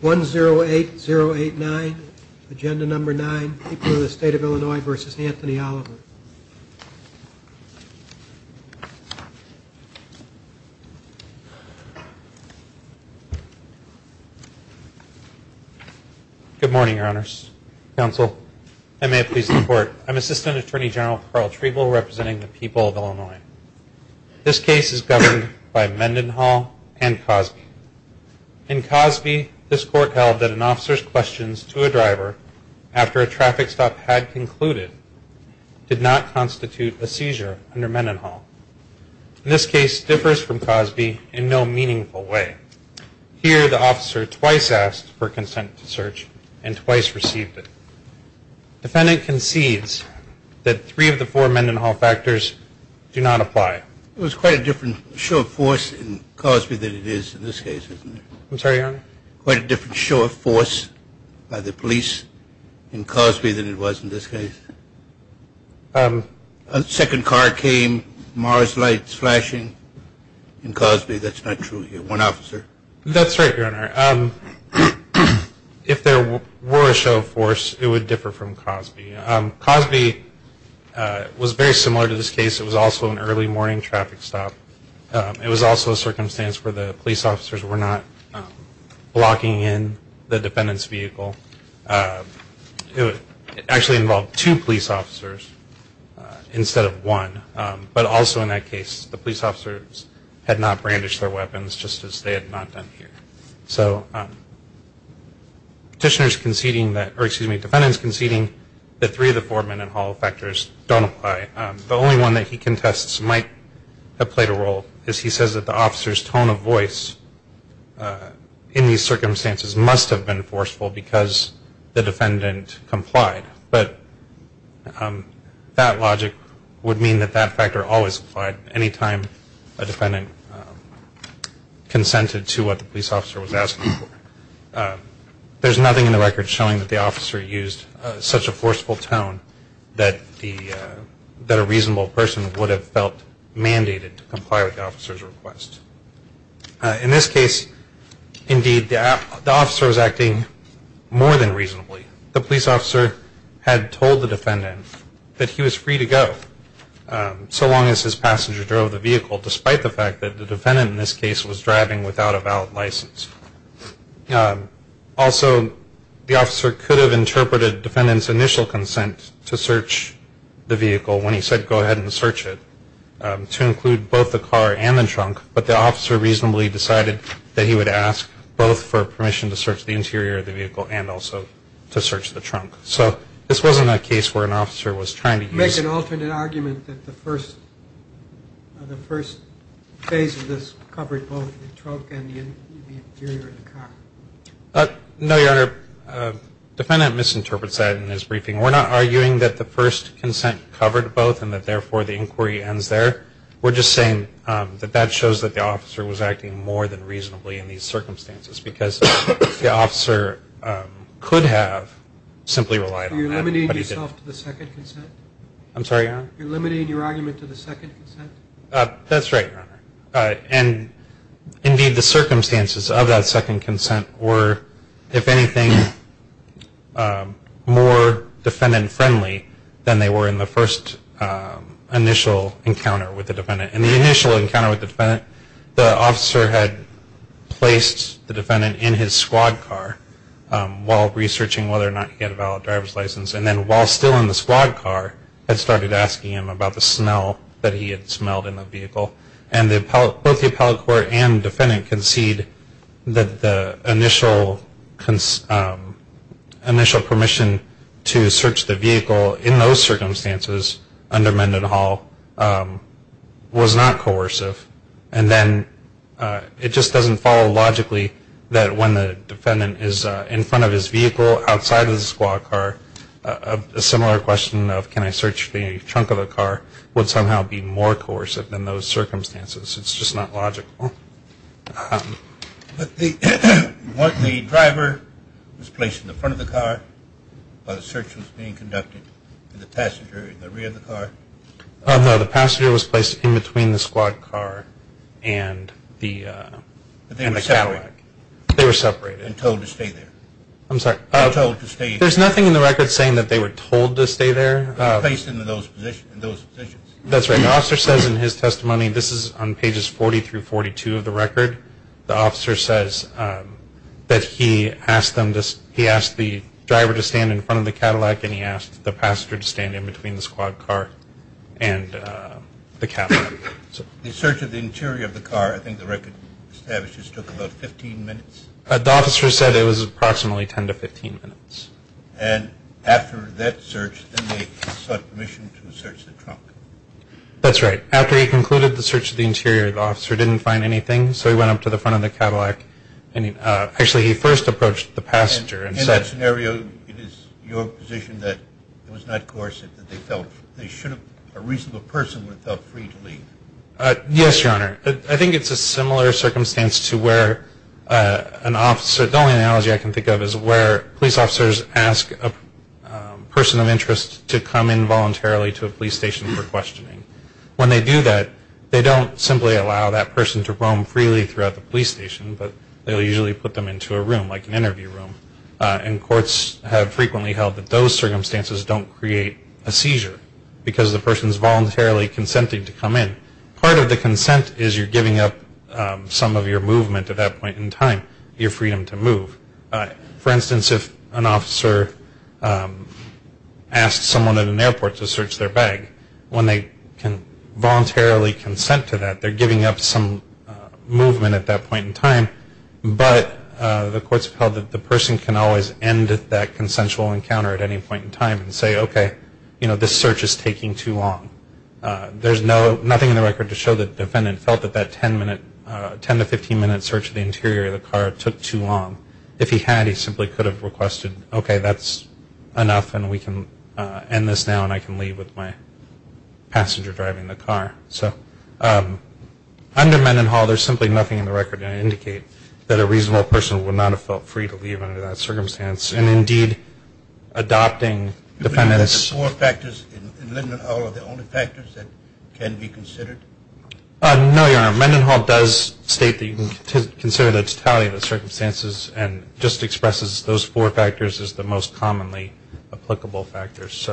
Good morning, Your Honors. Counsel, and may it please the Court, I am Assistant Attorney General Carl Trevel, representing the people of Illinois. This case is governed by Mendenhall and Cosby. In Cosby, this Court held that an officer's questions to a driver after a traffic stop had concluded did not constitute a seizure under Mendenhall. This case differs from Cosby in no meaningful way. Here the officer twice asked for consent to search and twice received it. Defendant concedes that three of the four Mendenhall factors do not apply. It was quite a different show of force in Cosby than it is in this case, isn't it? I'm sorry, Your Honor? Quite a different show of force by the police in Cosby than it was in this case. A second car came, Mars lights flashing in Cosby. That's not true here. One officer. That's right, Your Honor. If there were a show of force, it would differ from Cosby. Cosby was very similar to this case. It was also an early morning traffic stop. It was also a circumstance where the police officers were not blocking in the defendant's vehicle. It actually involved two police officers instead of one. But also in that case, the police officers had not brandished their weapons, just as they had not done here. So petitioners conceding that, excuse me, defendants conceding that three of the four Mendenhall factors don't apply. The only one that he contests might have played a role is he says that the officer's tone of voice in these circumstances must have been forceful because the defendant complied. But that logic would mean that that factor always applied any time a defendant consented to what the police officer was asking for. There's nothing in the record showing that the officer used such a forceful tone that the, that a reasonable person would have felt mandated to comply with the officer's request. In this case, indeed, the officer was acting more than reasonably. The police officer had told the defendant that he was free to go so long as his passenger drove the vehicle, despite the fact that the defendant in this case was driving without a valid license. Also, the officer could have interpreted defendant's initial consent to search the vehicle when he said go ahead and search it, to include both the car and the trunk, but the officer reasonably decided that he would ask both for permission to search the interior of the vehicle and also to search the trunk. So this wasn't a case where an officer was trying to use... No, Your Honor. The defendant misinterprets that in his briefing. We're not arguing that the first consent covered both and that, therefore, the inquiry ends there. We're just saying that that shows that the officer was acting more than reasonably in these circumstances because the officer could have simply relied on that, but he didn't. You're limiting yourself to the second consent? I'm sorry, Your Honor? You're limiting your argument to the second consent? That's right, Your Honor. And, indeed, the circumstances of that second consent were, if anything, more defendant-friendly than they were in the first initial encounter with the defendant. In the initial encounter with the defendant, the officer had placed the defendant in his squad car while researching whether or not he had a valid driver's license and then, while still in the squad car, had started asking him about the smell that he had smelled in the vehicle. And both the appellate court and defendant concede that the initial permission to search the vehicle in those circumstances under Mendenhall was not coercive. And then it just doesn't follow logically that when the defendant is in front of his squad car, a similar question of, can I search the trunk of the car, would somehow be more coercive in those circumstances. It's just not logical. But the driver was placed in the front of the car while the search was being conducted, and the passenger in the rear of the car? No, the passenger was placed in between the squad car and the Cadillac. But they were separated? They were separated. And told to stay there? I'm sorry. They were told to stay there? There's nothing in the record saying that they were told to stay there. They were placed in those positions? That's right. The officer says in his testimony, this is on pages 40 through 42 of the record, the officer says that he asked the driver to stand in front of the Cadillac and he asked the passenger to stand in between the squad car and the Cadillac. The search of the interior of the car, I think the record establishes, took about 15 minutes? The officer said it was approximately 10 to 15 minutes. And after that search, then they sought permission to search the trunk? That's right. After he concluded the search of the interior, the officer didn't find anything, so he went up to the front of the Cadillac. Actually, he first approached the passenger. In that scenario, it is your position that it was not coercive, Yes, Your Honor. I think it's a similar circumstance to where an officer, the only analogy I can think of is where police officers ask a person of interest to come in voluntarily to a police station for questioning. When they do that, they don't simply allow that person to roam freely throughout the police station, but they'll usually put them into a room, like an interview room. And courts have frequently held that those circumstances don't create a seizure because the person is voluntarily consenting to come in. Part of the consent is you're giving up some of your movement at that point in time, your freedom to move. For instance, if an officer asks someone at an airport to search their bag, when they can voluntarily consent to that, they're giving up some movement at that point in time, but the courts have held that the person can always end that consensual encounter at any point in time and say, okay, this search is taking too long. There's nothing in the record to show the defendant felt that that 10 to 15-minute search of the interior of the car took too long. If he had, he simply could have requested, okay, that's enough, and we can end this now and I can leave with my passenger driving the car. So under Mendenhall, there's simply nothing in the record to indicate that a reasonable person would not have felt free to leave under that circumstance. And, indeed, adopting defendants' The four factors in Mendenhall are the only factors that can be considered? No, Your Honor. Mendenhall does state that you can consider the totality of the circumstances and just expresses those four factors as the most commonly applicable factors.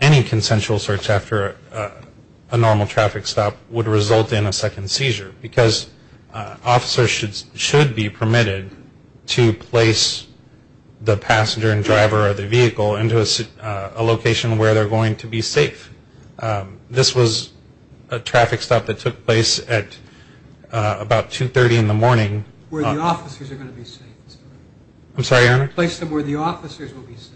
Any consensual search after a normal traffic stop would result in a second seizure because officers should be permitted to place the passenger and driver of the vehicle into a location where they're going to be safe. This was a traffic stop that took place at about 2.30 in the morning. Where the officers are going to be safe. I'm sorry, Your Honor? A place where the officers will be safe.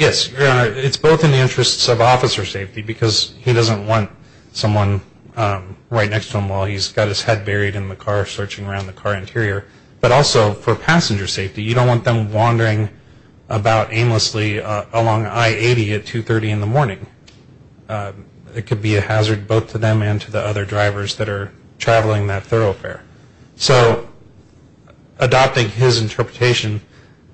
Yes, Your Honor, it's both in the interests of officer safety because he doesn't want someone right next to him while he's got his head buried in the car searching around the car interior, but also for passenger safety. You don't want them wandering about aimlessly along I-80 at 2.30 in the morning. It could be a hazard both to them and to the other drivers that are traveling that thoroughfare. So adopting his interpretation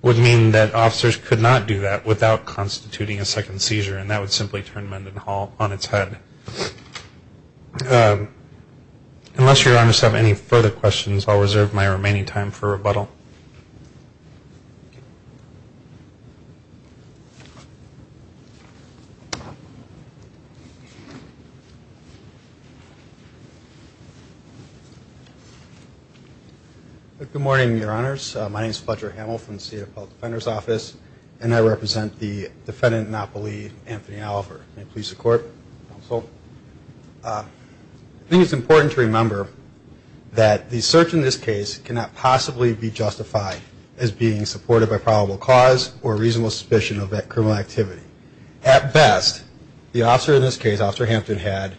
would mean that officers could not do that without constituting a second seizure and that would simply turn Mendenhall on its head. Unless Your Honors have any further questions, I'll reserve my remaining time for rebuttal. Thank you. Good morning, Your Honors. My name is Fletcher Hamill from the State Appellate Defender's Office and I represent the defendant in Oppoly, Anthony Oliver. May it please the Court. Counsel. I think it's important to remember that the search in this case cannot possibly be justified as being supported by probable cause or reasonable suspicion of criminal activity. At best, the officer in this case, Officer Hampton, had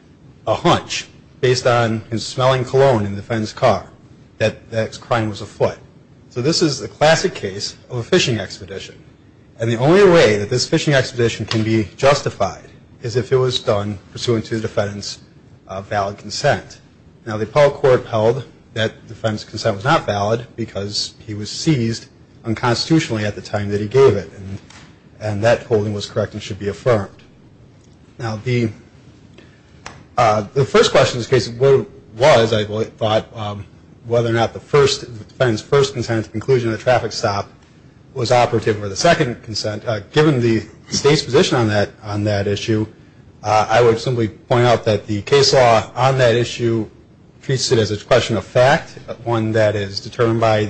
a hunch based on his smelling cologne in the defendant's car that the crime was afoot. So this is a classic case of a fishing expedition. And the only way that this fishing expedition can be justified is if it was done pursuant to the defendant's valid consent. Now the appellate court held that the defendant's consent was not valid because he was seized unconstitutionally at the time that he gave it and that holding was correct and should be affirmed. Now the first question in this case was I thought whether or not the defendant's first consent at the conclusion of the traffic stop was operative or the second consent, given the State's position on that issue, I would simply point out that the case law on that issue treats it as a question of fact, one that is determined by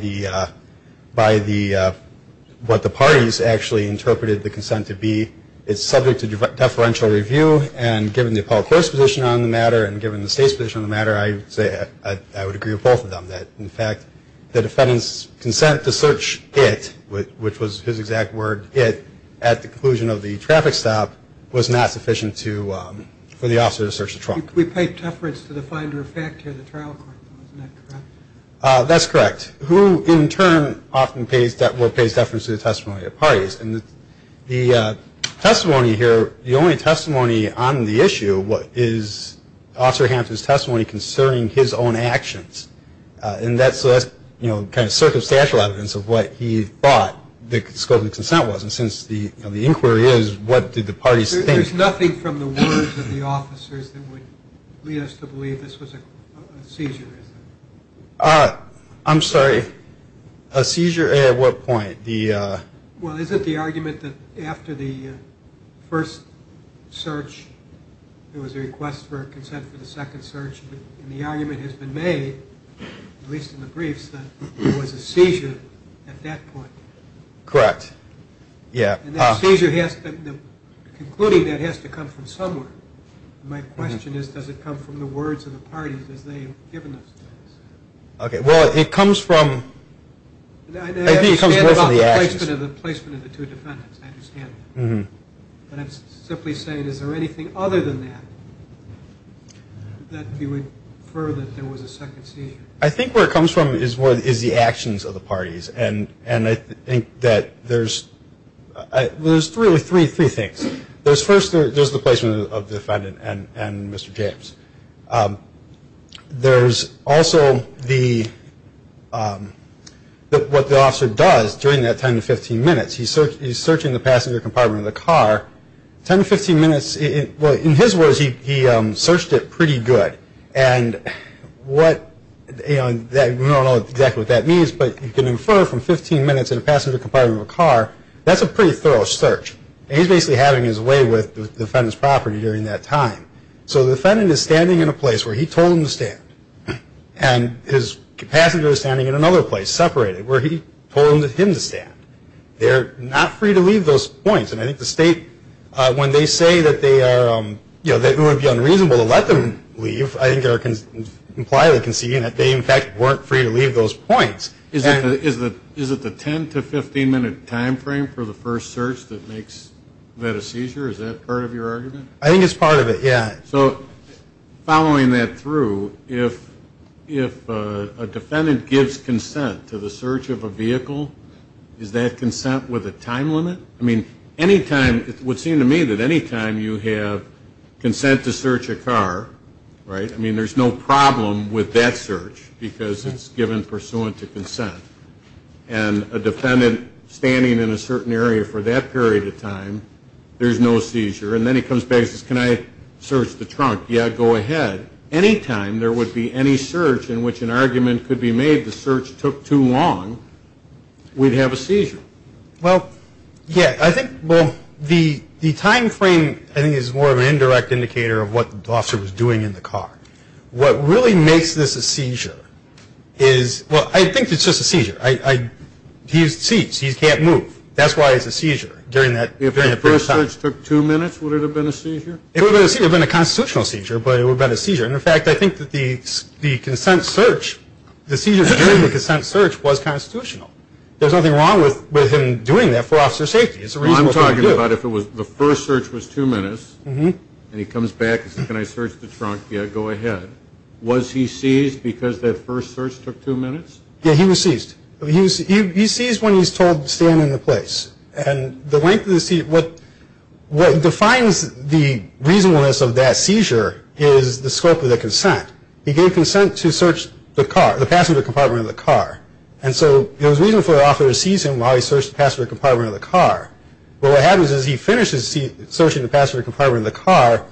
what the parties actually interpreted the consent to be. It's subject to deferential review and given the appellate court's position on the matter and given the State's position on the matter, I would agree with both of them. In fact, the defendant's consent to search it, which was his exact word, it at the conclusion of the traffic stop was not sufficient for the officer to search the trunk. We paid deference to the finder of fact here in the trial court, isn't that correct? That's correct. Who in turn often pays deference to the testimony of parties? The testimony here, the only testimony on the issue is Officer Hampton's testimony concerning his own actions. And that's kind of circumstantial evidence of what he thought the scope of the consent was. And since the inquiry is, what did the parties think? There's nothing from the words of the officers that would lead us to believe this was a seizure, is there? I'm sorry, a seizure at what point? Well, is it the argument that after the first search, there was a request for consent for the second search, and the argument has been made, at least in the briefs, that it was a seizure at that point? Correct, yeah. And that seizure has to, concluding that has to come from somewhere. My question is, does it come from the words of the parties as they have given us? Okay, well, it comes from, I think it comes more from the actions. I understand about the placement of the two defendants, I understand that. But I'm simply saying, is there anything other than that, that you would infer that there was a second seizure? I think where it comes from is the actions of the parties. And I think that there's really three things. First, there's the placement of the defendant and Mr. James. There's also what the officer does during that 10 to 15 minutes. He's searching the passenger compartment of the car. 10 to 15 minutes, in his words, he searched it pretty good. And we don't know exactly what that means, but you can infer from 15 minutes in a passenger compartment of a car, that's a pretty thorough search. And he's basically having his way with the defendant's property during that time. So the defendant is standing in a place where he told him to stand. And his passenger is standing in another place, separated, where he told him to stand. They're not free to leave those points. And I think the state, when they say that it would be unreasonable to let them leave, I think they're impliedly conceding that they, in fact, weren't free to leave those points. Is it the 10 to 15 minute time frame for the first search that makes that a seizure? Is that part of your argument? I think it's part of it, yeah. So following that through, if a defendant gives consent to the search of a vehicle, is that consent with a time limit? I mean, any time, it would seem to me that any time you have consent to search a car, right, I mean, there's no problem with that search because it's given pursuant to consent. And a defendant standing in a certain area for that period of time, there's no seizure. And then he comes back and says, can I search the trunk? Yeah, go ahead. Any time there would be any search in which an argument could be made the search took too long, we'd have a seizure. Well, yeah, I think, well, the time frame, I think, is more of an indirect indicator of what the officer was doing in the car. What really makes this a seizure is, well, I think it's just a seizure. He's seized. He can't move. That's why it's a seizure during that period of time. If the search took two minutes, would it have been a seizure? It would have been a seizure. It would have been a constitutional seizure, but it would have been a seizure. And, in fact, I think that the consent search, the seizures during the consent search was constitutional. There's nothing wrong with him doing that for officer safety. It's a reasonable thing to do. Well, I'm talking about if the first search was two minutes, and he comes back and says, can I search the trunk? Yeah, go ahead. Was he seized because that first search took two minutes? Yeah, he was seized. He's seized when he's told to stand in the place. What defines the reasonableness of that seizure is the scope of the consent. He gave consent to search the passenger compartment of the car. And so it was reasonable for the officer to seize him while he searched the passenger compartment of the car. But what happens is he finishes searching the passenger compartment of the car,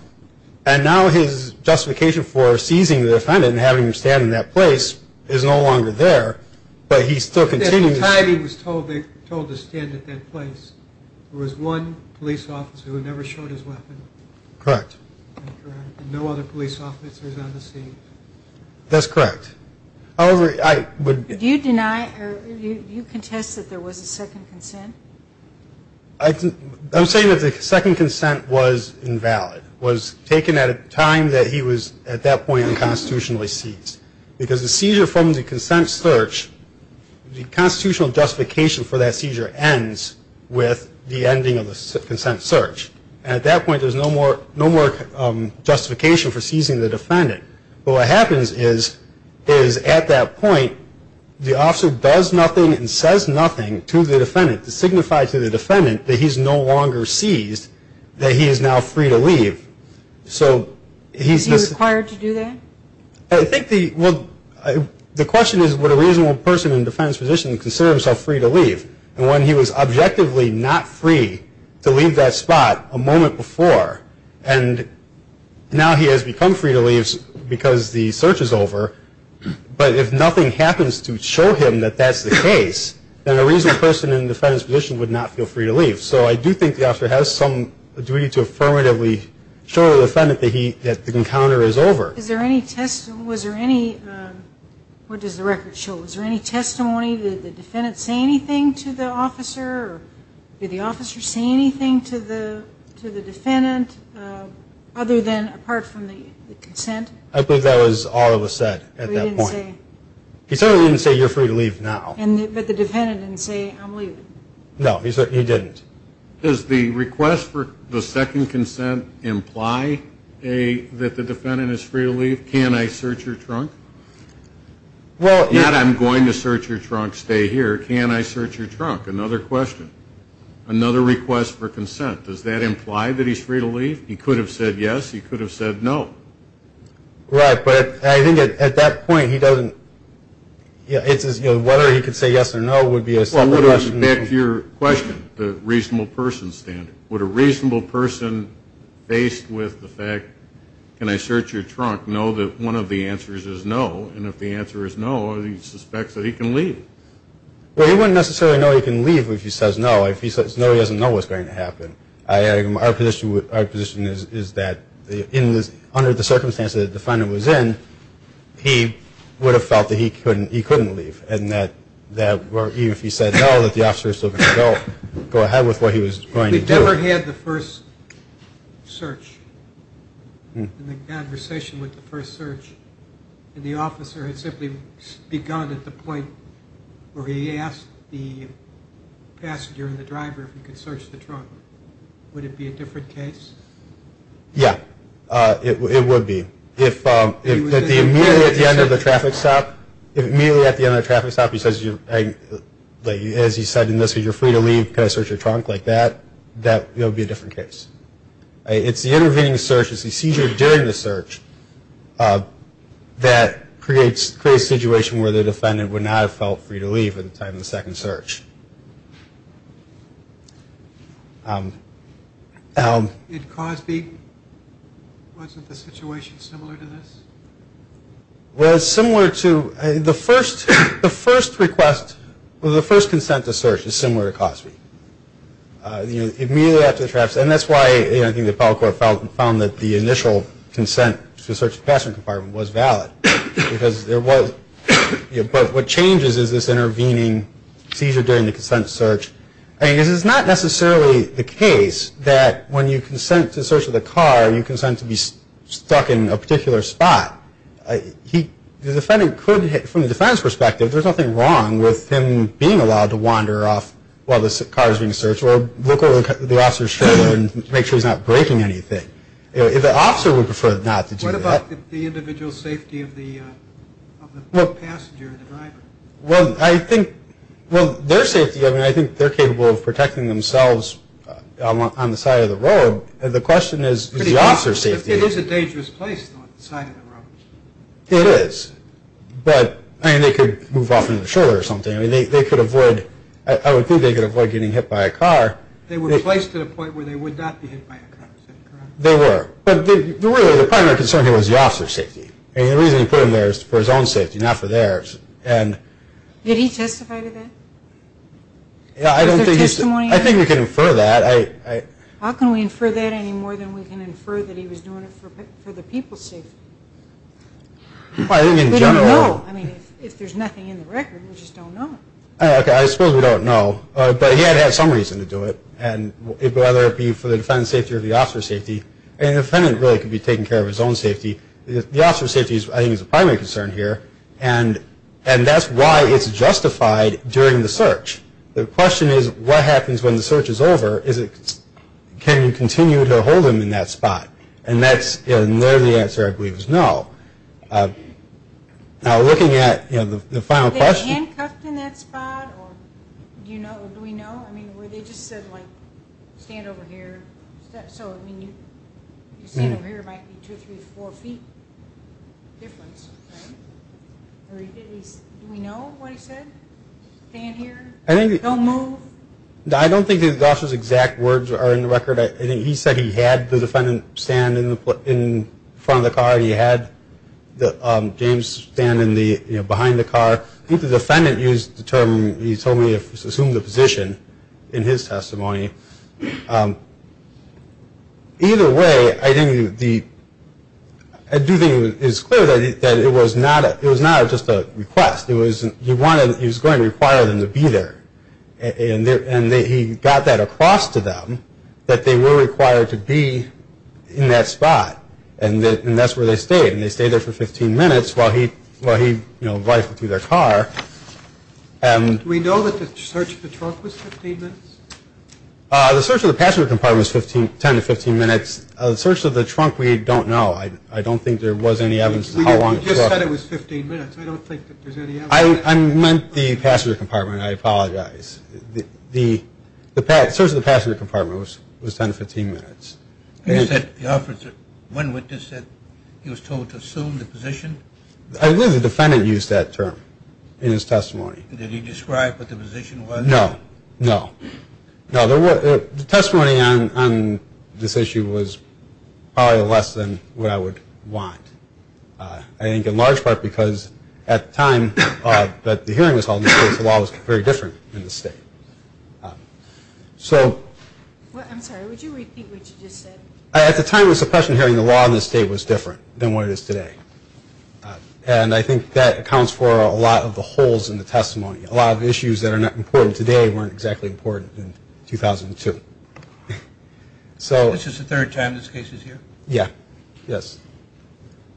and now his justification for seizing the defendant and having him stand in that place is no longer there, but he's still continuing to seize. At the time he was told to stand at that place, there was one police officer who never showed his weapon. Correct. And no other police officer is on the scene. That's correct. However, I would – Do you deny or do you contest that there was a second consent? I'm saying that the second consent was invalid, was taken at a time that he was at that point unconstitutionally seized. Because the seizure from the consent search, the constitutional justification for that seizure ends with the ending of the consent search. And at that point there's no more justification for seizing the defendant. But what happens is at that point the officer does nothing and says nothing to the defendant to signify to the defendant that he's no longer seized, that he is now free to leave. So he's just – Is he required to do that? I think the – well, the question is, would a reasonable person in a defendant's position consider himself free to leave? And when he was objectively not free to leave that spot a moment before, and now he has become free to leave because the search is over, but if nothing happens to show him that that's the case, then a reasonable person in a defendant's position would not feel free to leave. So I do think the officer has some duty to affirmatively show the defendant that the encounter is over. Is there any – was there any – what does the record show? Was there any testimony? Did the defendant say anything to the officer? Did the officer say anything to the defendant other than apart from the consent? I believe that was all that was said at that point. He didn't say. He certainly didn't say, you're free to leave now. But the defendant didn't say, I'm leaving. No, he didn't. Does the request for the second consent imply that the defendant is free to leave? Can I search your trunk? Not I'm going to search your trunk, stay here. Can I search your trunk? Another question. Another request for consent. Does that imply that he's free to leave? He could have said yes. He could have said no. Right, but I think at that point he doesn't – whether he could say yes or no would be a separate question. Back to your question, the reasonable person standard. Would a reasonable person, based with the fact, can I search your trunk, know that one of the answers is no? And if the answer is no, he suspects that he can leave. Well, he wouldn't necessarily know he can leave if he says no. If he says no, he doesn't know what's going to happen. Our position is that under the circumstances the defendant was in, he would have felt that he couldn't leave. And that even if he said no, that the officer was still going to go ahead with what he was going to do. If we'd never had the first search and the conversation with the first search, and the officer had simply begun at the point where he asked the passenger and the driver if he could search the trunk, would it be a different case? Yeah, it would be. If immediately at the end of the traffic stop he says, as he said in this, if you're free to leave, can I search your trunk, like that, that would be a different case. It's the intervening search, it's the seizure during the search that creates a situation where the defendant would not have felt free to leave at the time of the second search. In Cosby, wasn't the situation similar to this? Well, it's similar to, the first request, the first consent to search is similar to Cosby. Immediately after the traffic stop, and that's why I think the appellate court found that the initial consent to search the passenger compartment was valid because there was, but what changes is this intervening seizure during the consent search. I mean, this is not necessarily the case that when you consent to search of the car, you consent to be stuck in a particular spot. The defendant could, from the defendant's perspective, there's nothing wrong with him being allowed to wander off while the car is being searched or look over the officer's shoulder and make sure he's not breaking anything. The officer would prefer not to do that. What about the individual safety of the passenger, the driver? Well, I think, well, their safety, I mean, I think they're capable of protecting themselves on the side of the road. The question is the officer's safety. It is a dangerous place, though, on the side of the road. It is. But, I mean, they could move off into the shoulder or something. I mean, they could avoid, I would think they could avoid getting hit by a car. They were placed at a point where they would not be hit by a car, is that correct? They were. But, really, the primary concern here was the officer's safety. I mean, the reason he put them there is for his own safety, not for theirs. Did he testify to that? Yeah, I don't think he did. Was there testimony? I think we can infer that. How can we infer that any more than we can infer that he was doing it for the people's safety? Well, I think in general. We don't know. I mean, if there's nothing in the record, we just don't know. Okay, I suppose we don't know. But he had had some reason to do it. And whether it be for the defendant's safety or the officer's safety. I mean, the defendant really could be taking care of his own safety. The officer's safety, I think, is the primary concern here. And that's why it's justified during the search. The question is, what happens when the search is over? Can you continue to hold him in that spot? And there the answer, I believe, is no. Now, looking at the final question. Were they handcuffed in that spot? Do we know? I mean, were they just said, like, stand over here? So, I mean, you stand over here, it might be two, three, four feet difference, right? Do we know what he said? Stand here? Don't move? I don't think the officer's exact words are in the record. I think he said he had the defendant stand in front of the car. He had James stand behind the car. I think the defendant used the term, he told me, assumed the position in his testimony. Either way, I do think it's clear that it was not just a request. He was going to require them to be there. And he got that across to them that they were required to be in that spot. And that's where they stayed. And they stayed there for 15 minutes while he, you know, rifled through their car. Do we know that the search of the trunk was 15 minutes? The search of the passenger compartment was 10 to 15 minutes. The search of the trunk, we don't know. I don't think there was any evidence of how long it took. You just said it was 15 minutes. I don't think that there's any evidence. I meant the passenger compartment. I apologize. The search of the passenger compartment was 10 to 15 minutes. You said the officer, one witness said he was told to assume the position? I believe the defendant used that term in his testimony. Did he describe what the position was? No. No. No, the testimony on this issue was probably less than what I would want. I think in large part because at the time that the hearing was held, the law was very different in the state. I'm sorry. Would you repeat what you just said? At the time of the suppression hearing, the law in the state was different than what it is today. And I think that accounts for a lot of the holes in the testimony. A lot of the issues that are not important today weren't exactly important in 2002. This is the third time this case is here? Yeah. Yes.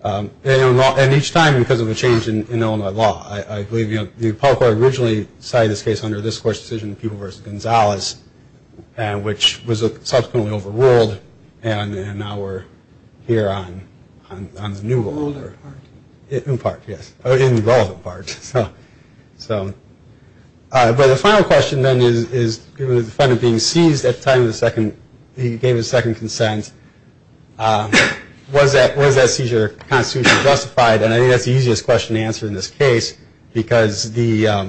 And each time because of a change in Illinois law. I believe the appellate court originally decided this case under this court's decision, People v. Gonzalez, which was subsequently overruled, and now we're here on the new law. In part. In part, yes. In the relevant part. But the final question then is, given the defendant being seized at the time of the second, he gave his second consent, was that seizure constitutionally justified? And I think that's the easiest question to answer in this case because there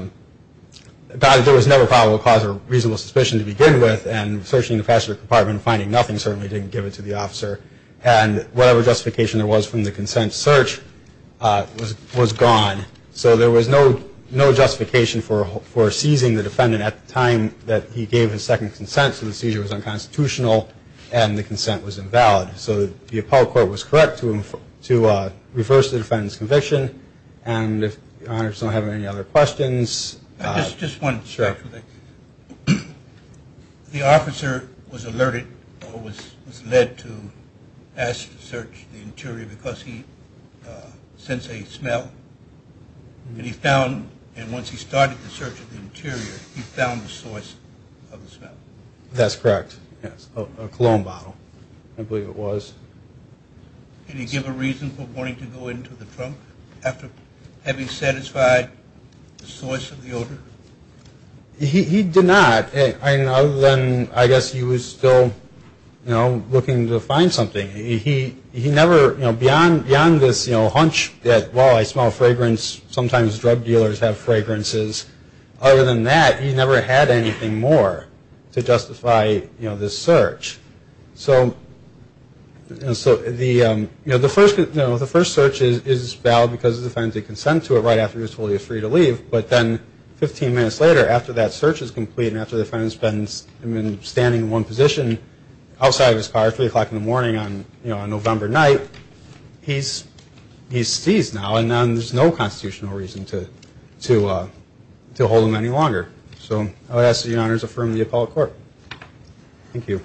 was no probable cause or reasonable suspicion to begin with, and searching the passenger compartment and finding nothing certainly didn't give it to the officer. And whatever justification there was from the consent search was gone. So there was no justification for seizing the defendant at the time that he gave his second consent, so the seizure was unconstitutional and the consent was invalid. So the appellate court was correct to reverse the defendant's conviction. And if the honors don't have any other questions. Just one. Sure. The officer was alerted or was led to ask to search the interior because he sensed a smell. And he found, and once he started the search of the interior, he found the source of the smell. That's correct. A cologne bottle, I believe it was. Can you give a reason for wanting to go into the trunk? Have you satisfied the source of the odor? He did not, other than I guess he was still, you know, looking to find something. He never, you know, beyond this, you know, hunch that, well, I smell fragrance, sometimes drug dealers have fragrances. Other than that, he never had anything more to justify, you know, this search. So, you know, the first search is valid because the defendant did consent to it right after he was told he was free to leave. But then 15 minutes later, after that search is complete and after the defendant's been standing in one position outside of his car at 3 o'clock in the morning on, you know, to hold him any longer. So I would ask that you, Your Honors, affirm the appellate court. Thank you.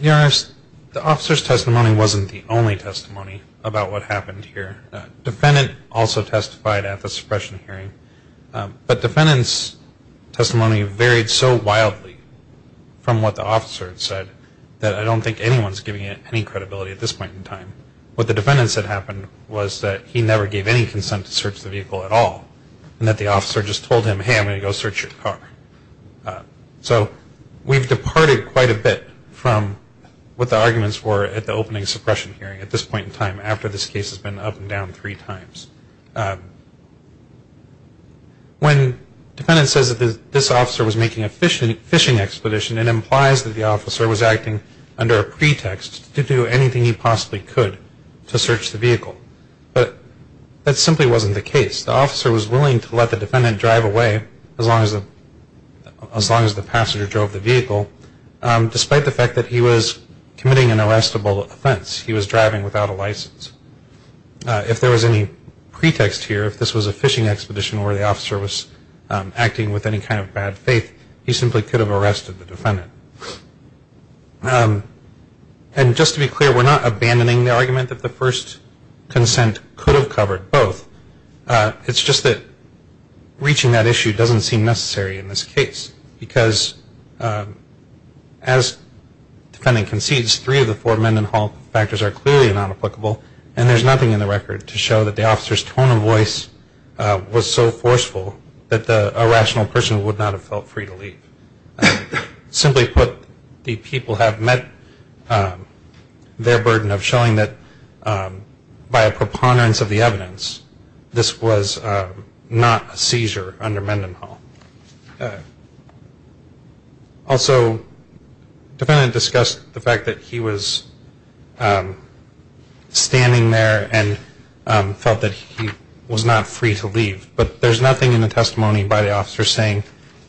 Your Honors, the officer's testimony wasn't the only testimony about what happened here. The defendant also testified at the suppression hearing. But defendant's testimony varied so wildly from what the officer had said that I don't think anyone's giving it any credibility at this point in time. What the defendant said happened was that he never gave any consent to search the vehicle at all and that the officer just told him, hey, I'm going to go search your car. So we've departed quite a bit from what the arguments were at the opening suppression hearing at this point in time after this case has been up and down three times. When defendant says that this officer was making a fishing expedition, it implies that the officer was acting under a pretext to do anything he possibly could to search the vehicle. But that simply wasn't the case. The officer was willing to let the defendant drive away as long as the passenger drove the vehicle, despite the fact that he was committing an arrestable offense. He was driving without a license. If there was any pretext here, if this was a fishing expedition where the officer was acting with any kind of bad faith, he simply could have arrested the defendant. And just to be clear, we're not abandoning the argument that the first consent could have covered both. It's just that reaching that issue doesn't seem necessary in this case because as defendant concedes, three of the four Mendenhall factors are clearly not applicable, and there's nothing in the record to show that the officer's tone of voice was so forceful that the irrational person would not have felt free to leave. Simply put, the people have met their burden of showing that by a preponderance of the evidence, this was not a seizure under Mendenhall. Also, the defendant discussed the fact that he was standing there and felt that he was not free to leave. But there's nothing in the testimony by the officer saying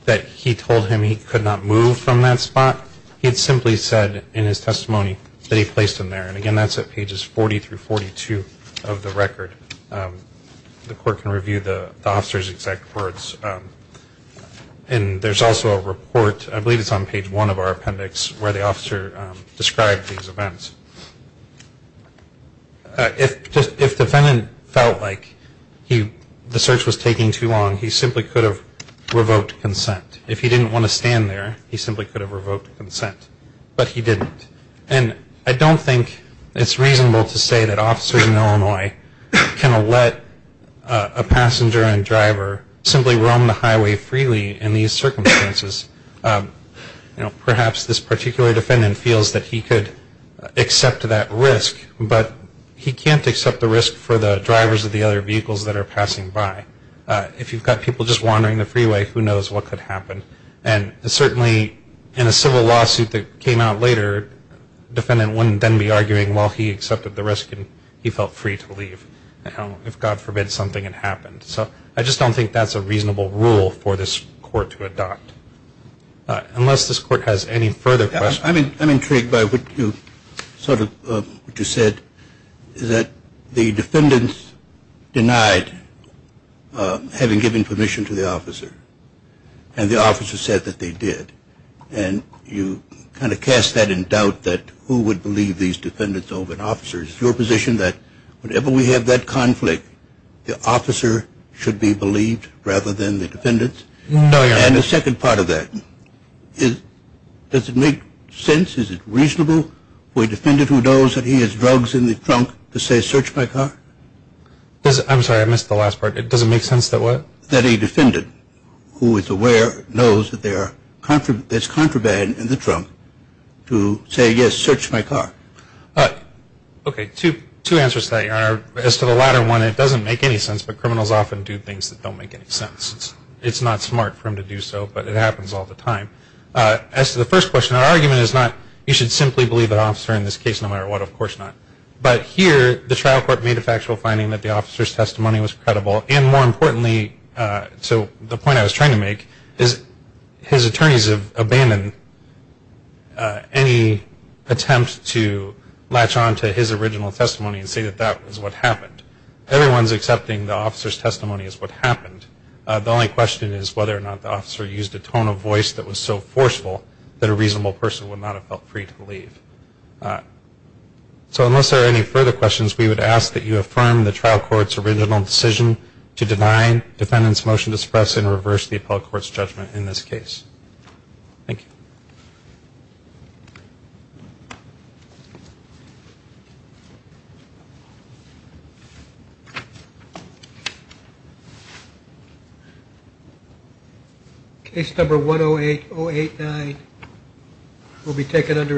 that he told him he could not move from that spot. He had simply said in his testimony that he placed him there. And again, that's at pages 40 through 42 of the record. The court can review the officer's exact words. And there's also a report, I believe it's on page one of our appendix, where the officer described these events. If the defendant felt like the search was taking too long, he simply could have revoked consent. If he didn't want to stand there, he simply could have revoked consent, but he didn't. And I don't think it's reasonable to say that officers in Illinois can let a passenger and driver simply roam the highway freely in these circumstances. Perhaps this particular defendant feels that he could accept that risk, but he can't accept the risk for the drivers of the other vehicles that are passing by. If you've got people just wandering the freeway, who knows what could happen. And certainly in a civil lawsuit that came out later, the defendant wouldn't then be arguing, well, he accepted the risk and he felt free to leave, if God forbid something had happened. So I just don't think that's a reasonable rule for this court to adopt. Unless this court has any further questions. I'm intrigued by what you said, that the defendants denied having given permission to the officer, and the officer said that they did. And you kind of cast that in doubt that who would believe these defendants over an officer. Is it your position that whenever we have that conflict, the officer should be believed rather than the defendants? No, Your Honor. And the second part of that, does it make sense, is it reasonable for a defendant who knows that he has drugs in the trunk to say, search my car? I'm sorry, I missed the last part. Does it make sense that what? That a defendant who is aware knows that there's contraband in the trunk to say, yes, search my car? Okay, two answers to that, Your Honor. As to the latter one, it doesn't make any sense, but criminals often do things that don't make any sense. It's not smart for them to do so, but it happens all the time. As to the first question, our argument is not, you should simply believe an officer in this case no matter what, of course not. But here, the trial court made a factual finding that the officer's testimony was credible, and more importantly, so the point I was trying to make is his attorneys have abandoned any attempt to latch on to his original testimony and say that that was what happened. Everyone's accepting the officer's testimony as what happened. The only question is whether or not the officer used a tone of voice that was so forceful that a reasonable person would not have felt free to leave. So unless there are any further questions, we would ask that you affirm the trial court's original decision to deny defendants' motion to suppress and reverse the appellate court's judgment in this case. Thank you. Case number 108-089 will be taken under review.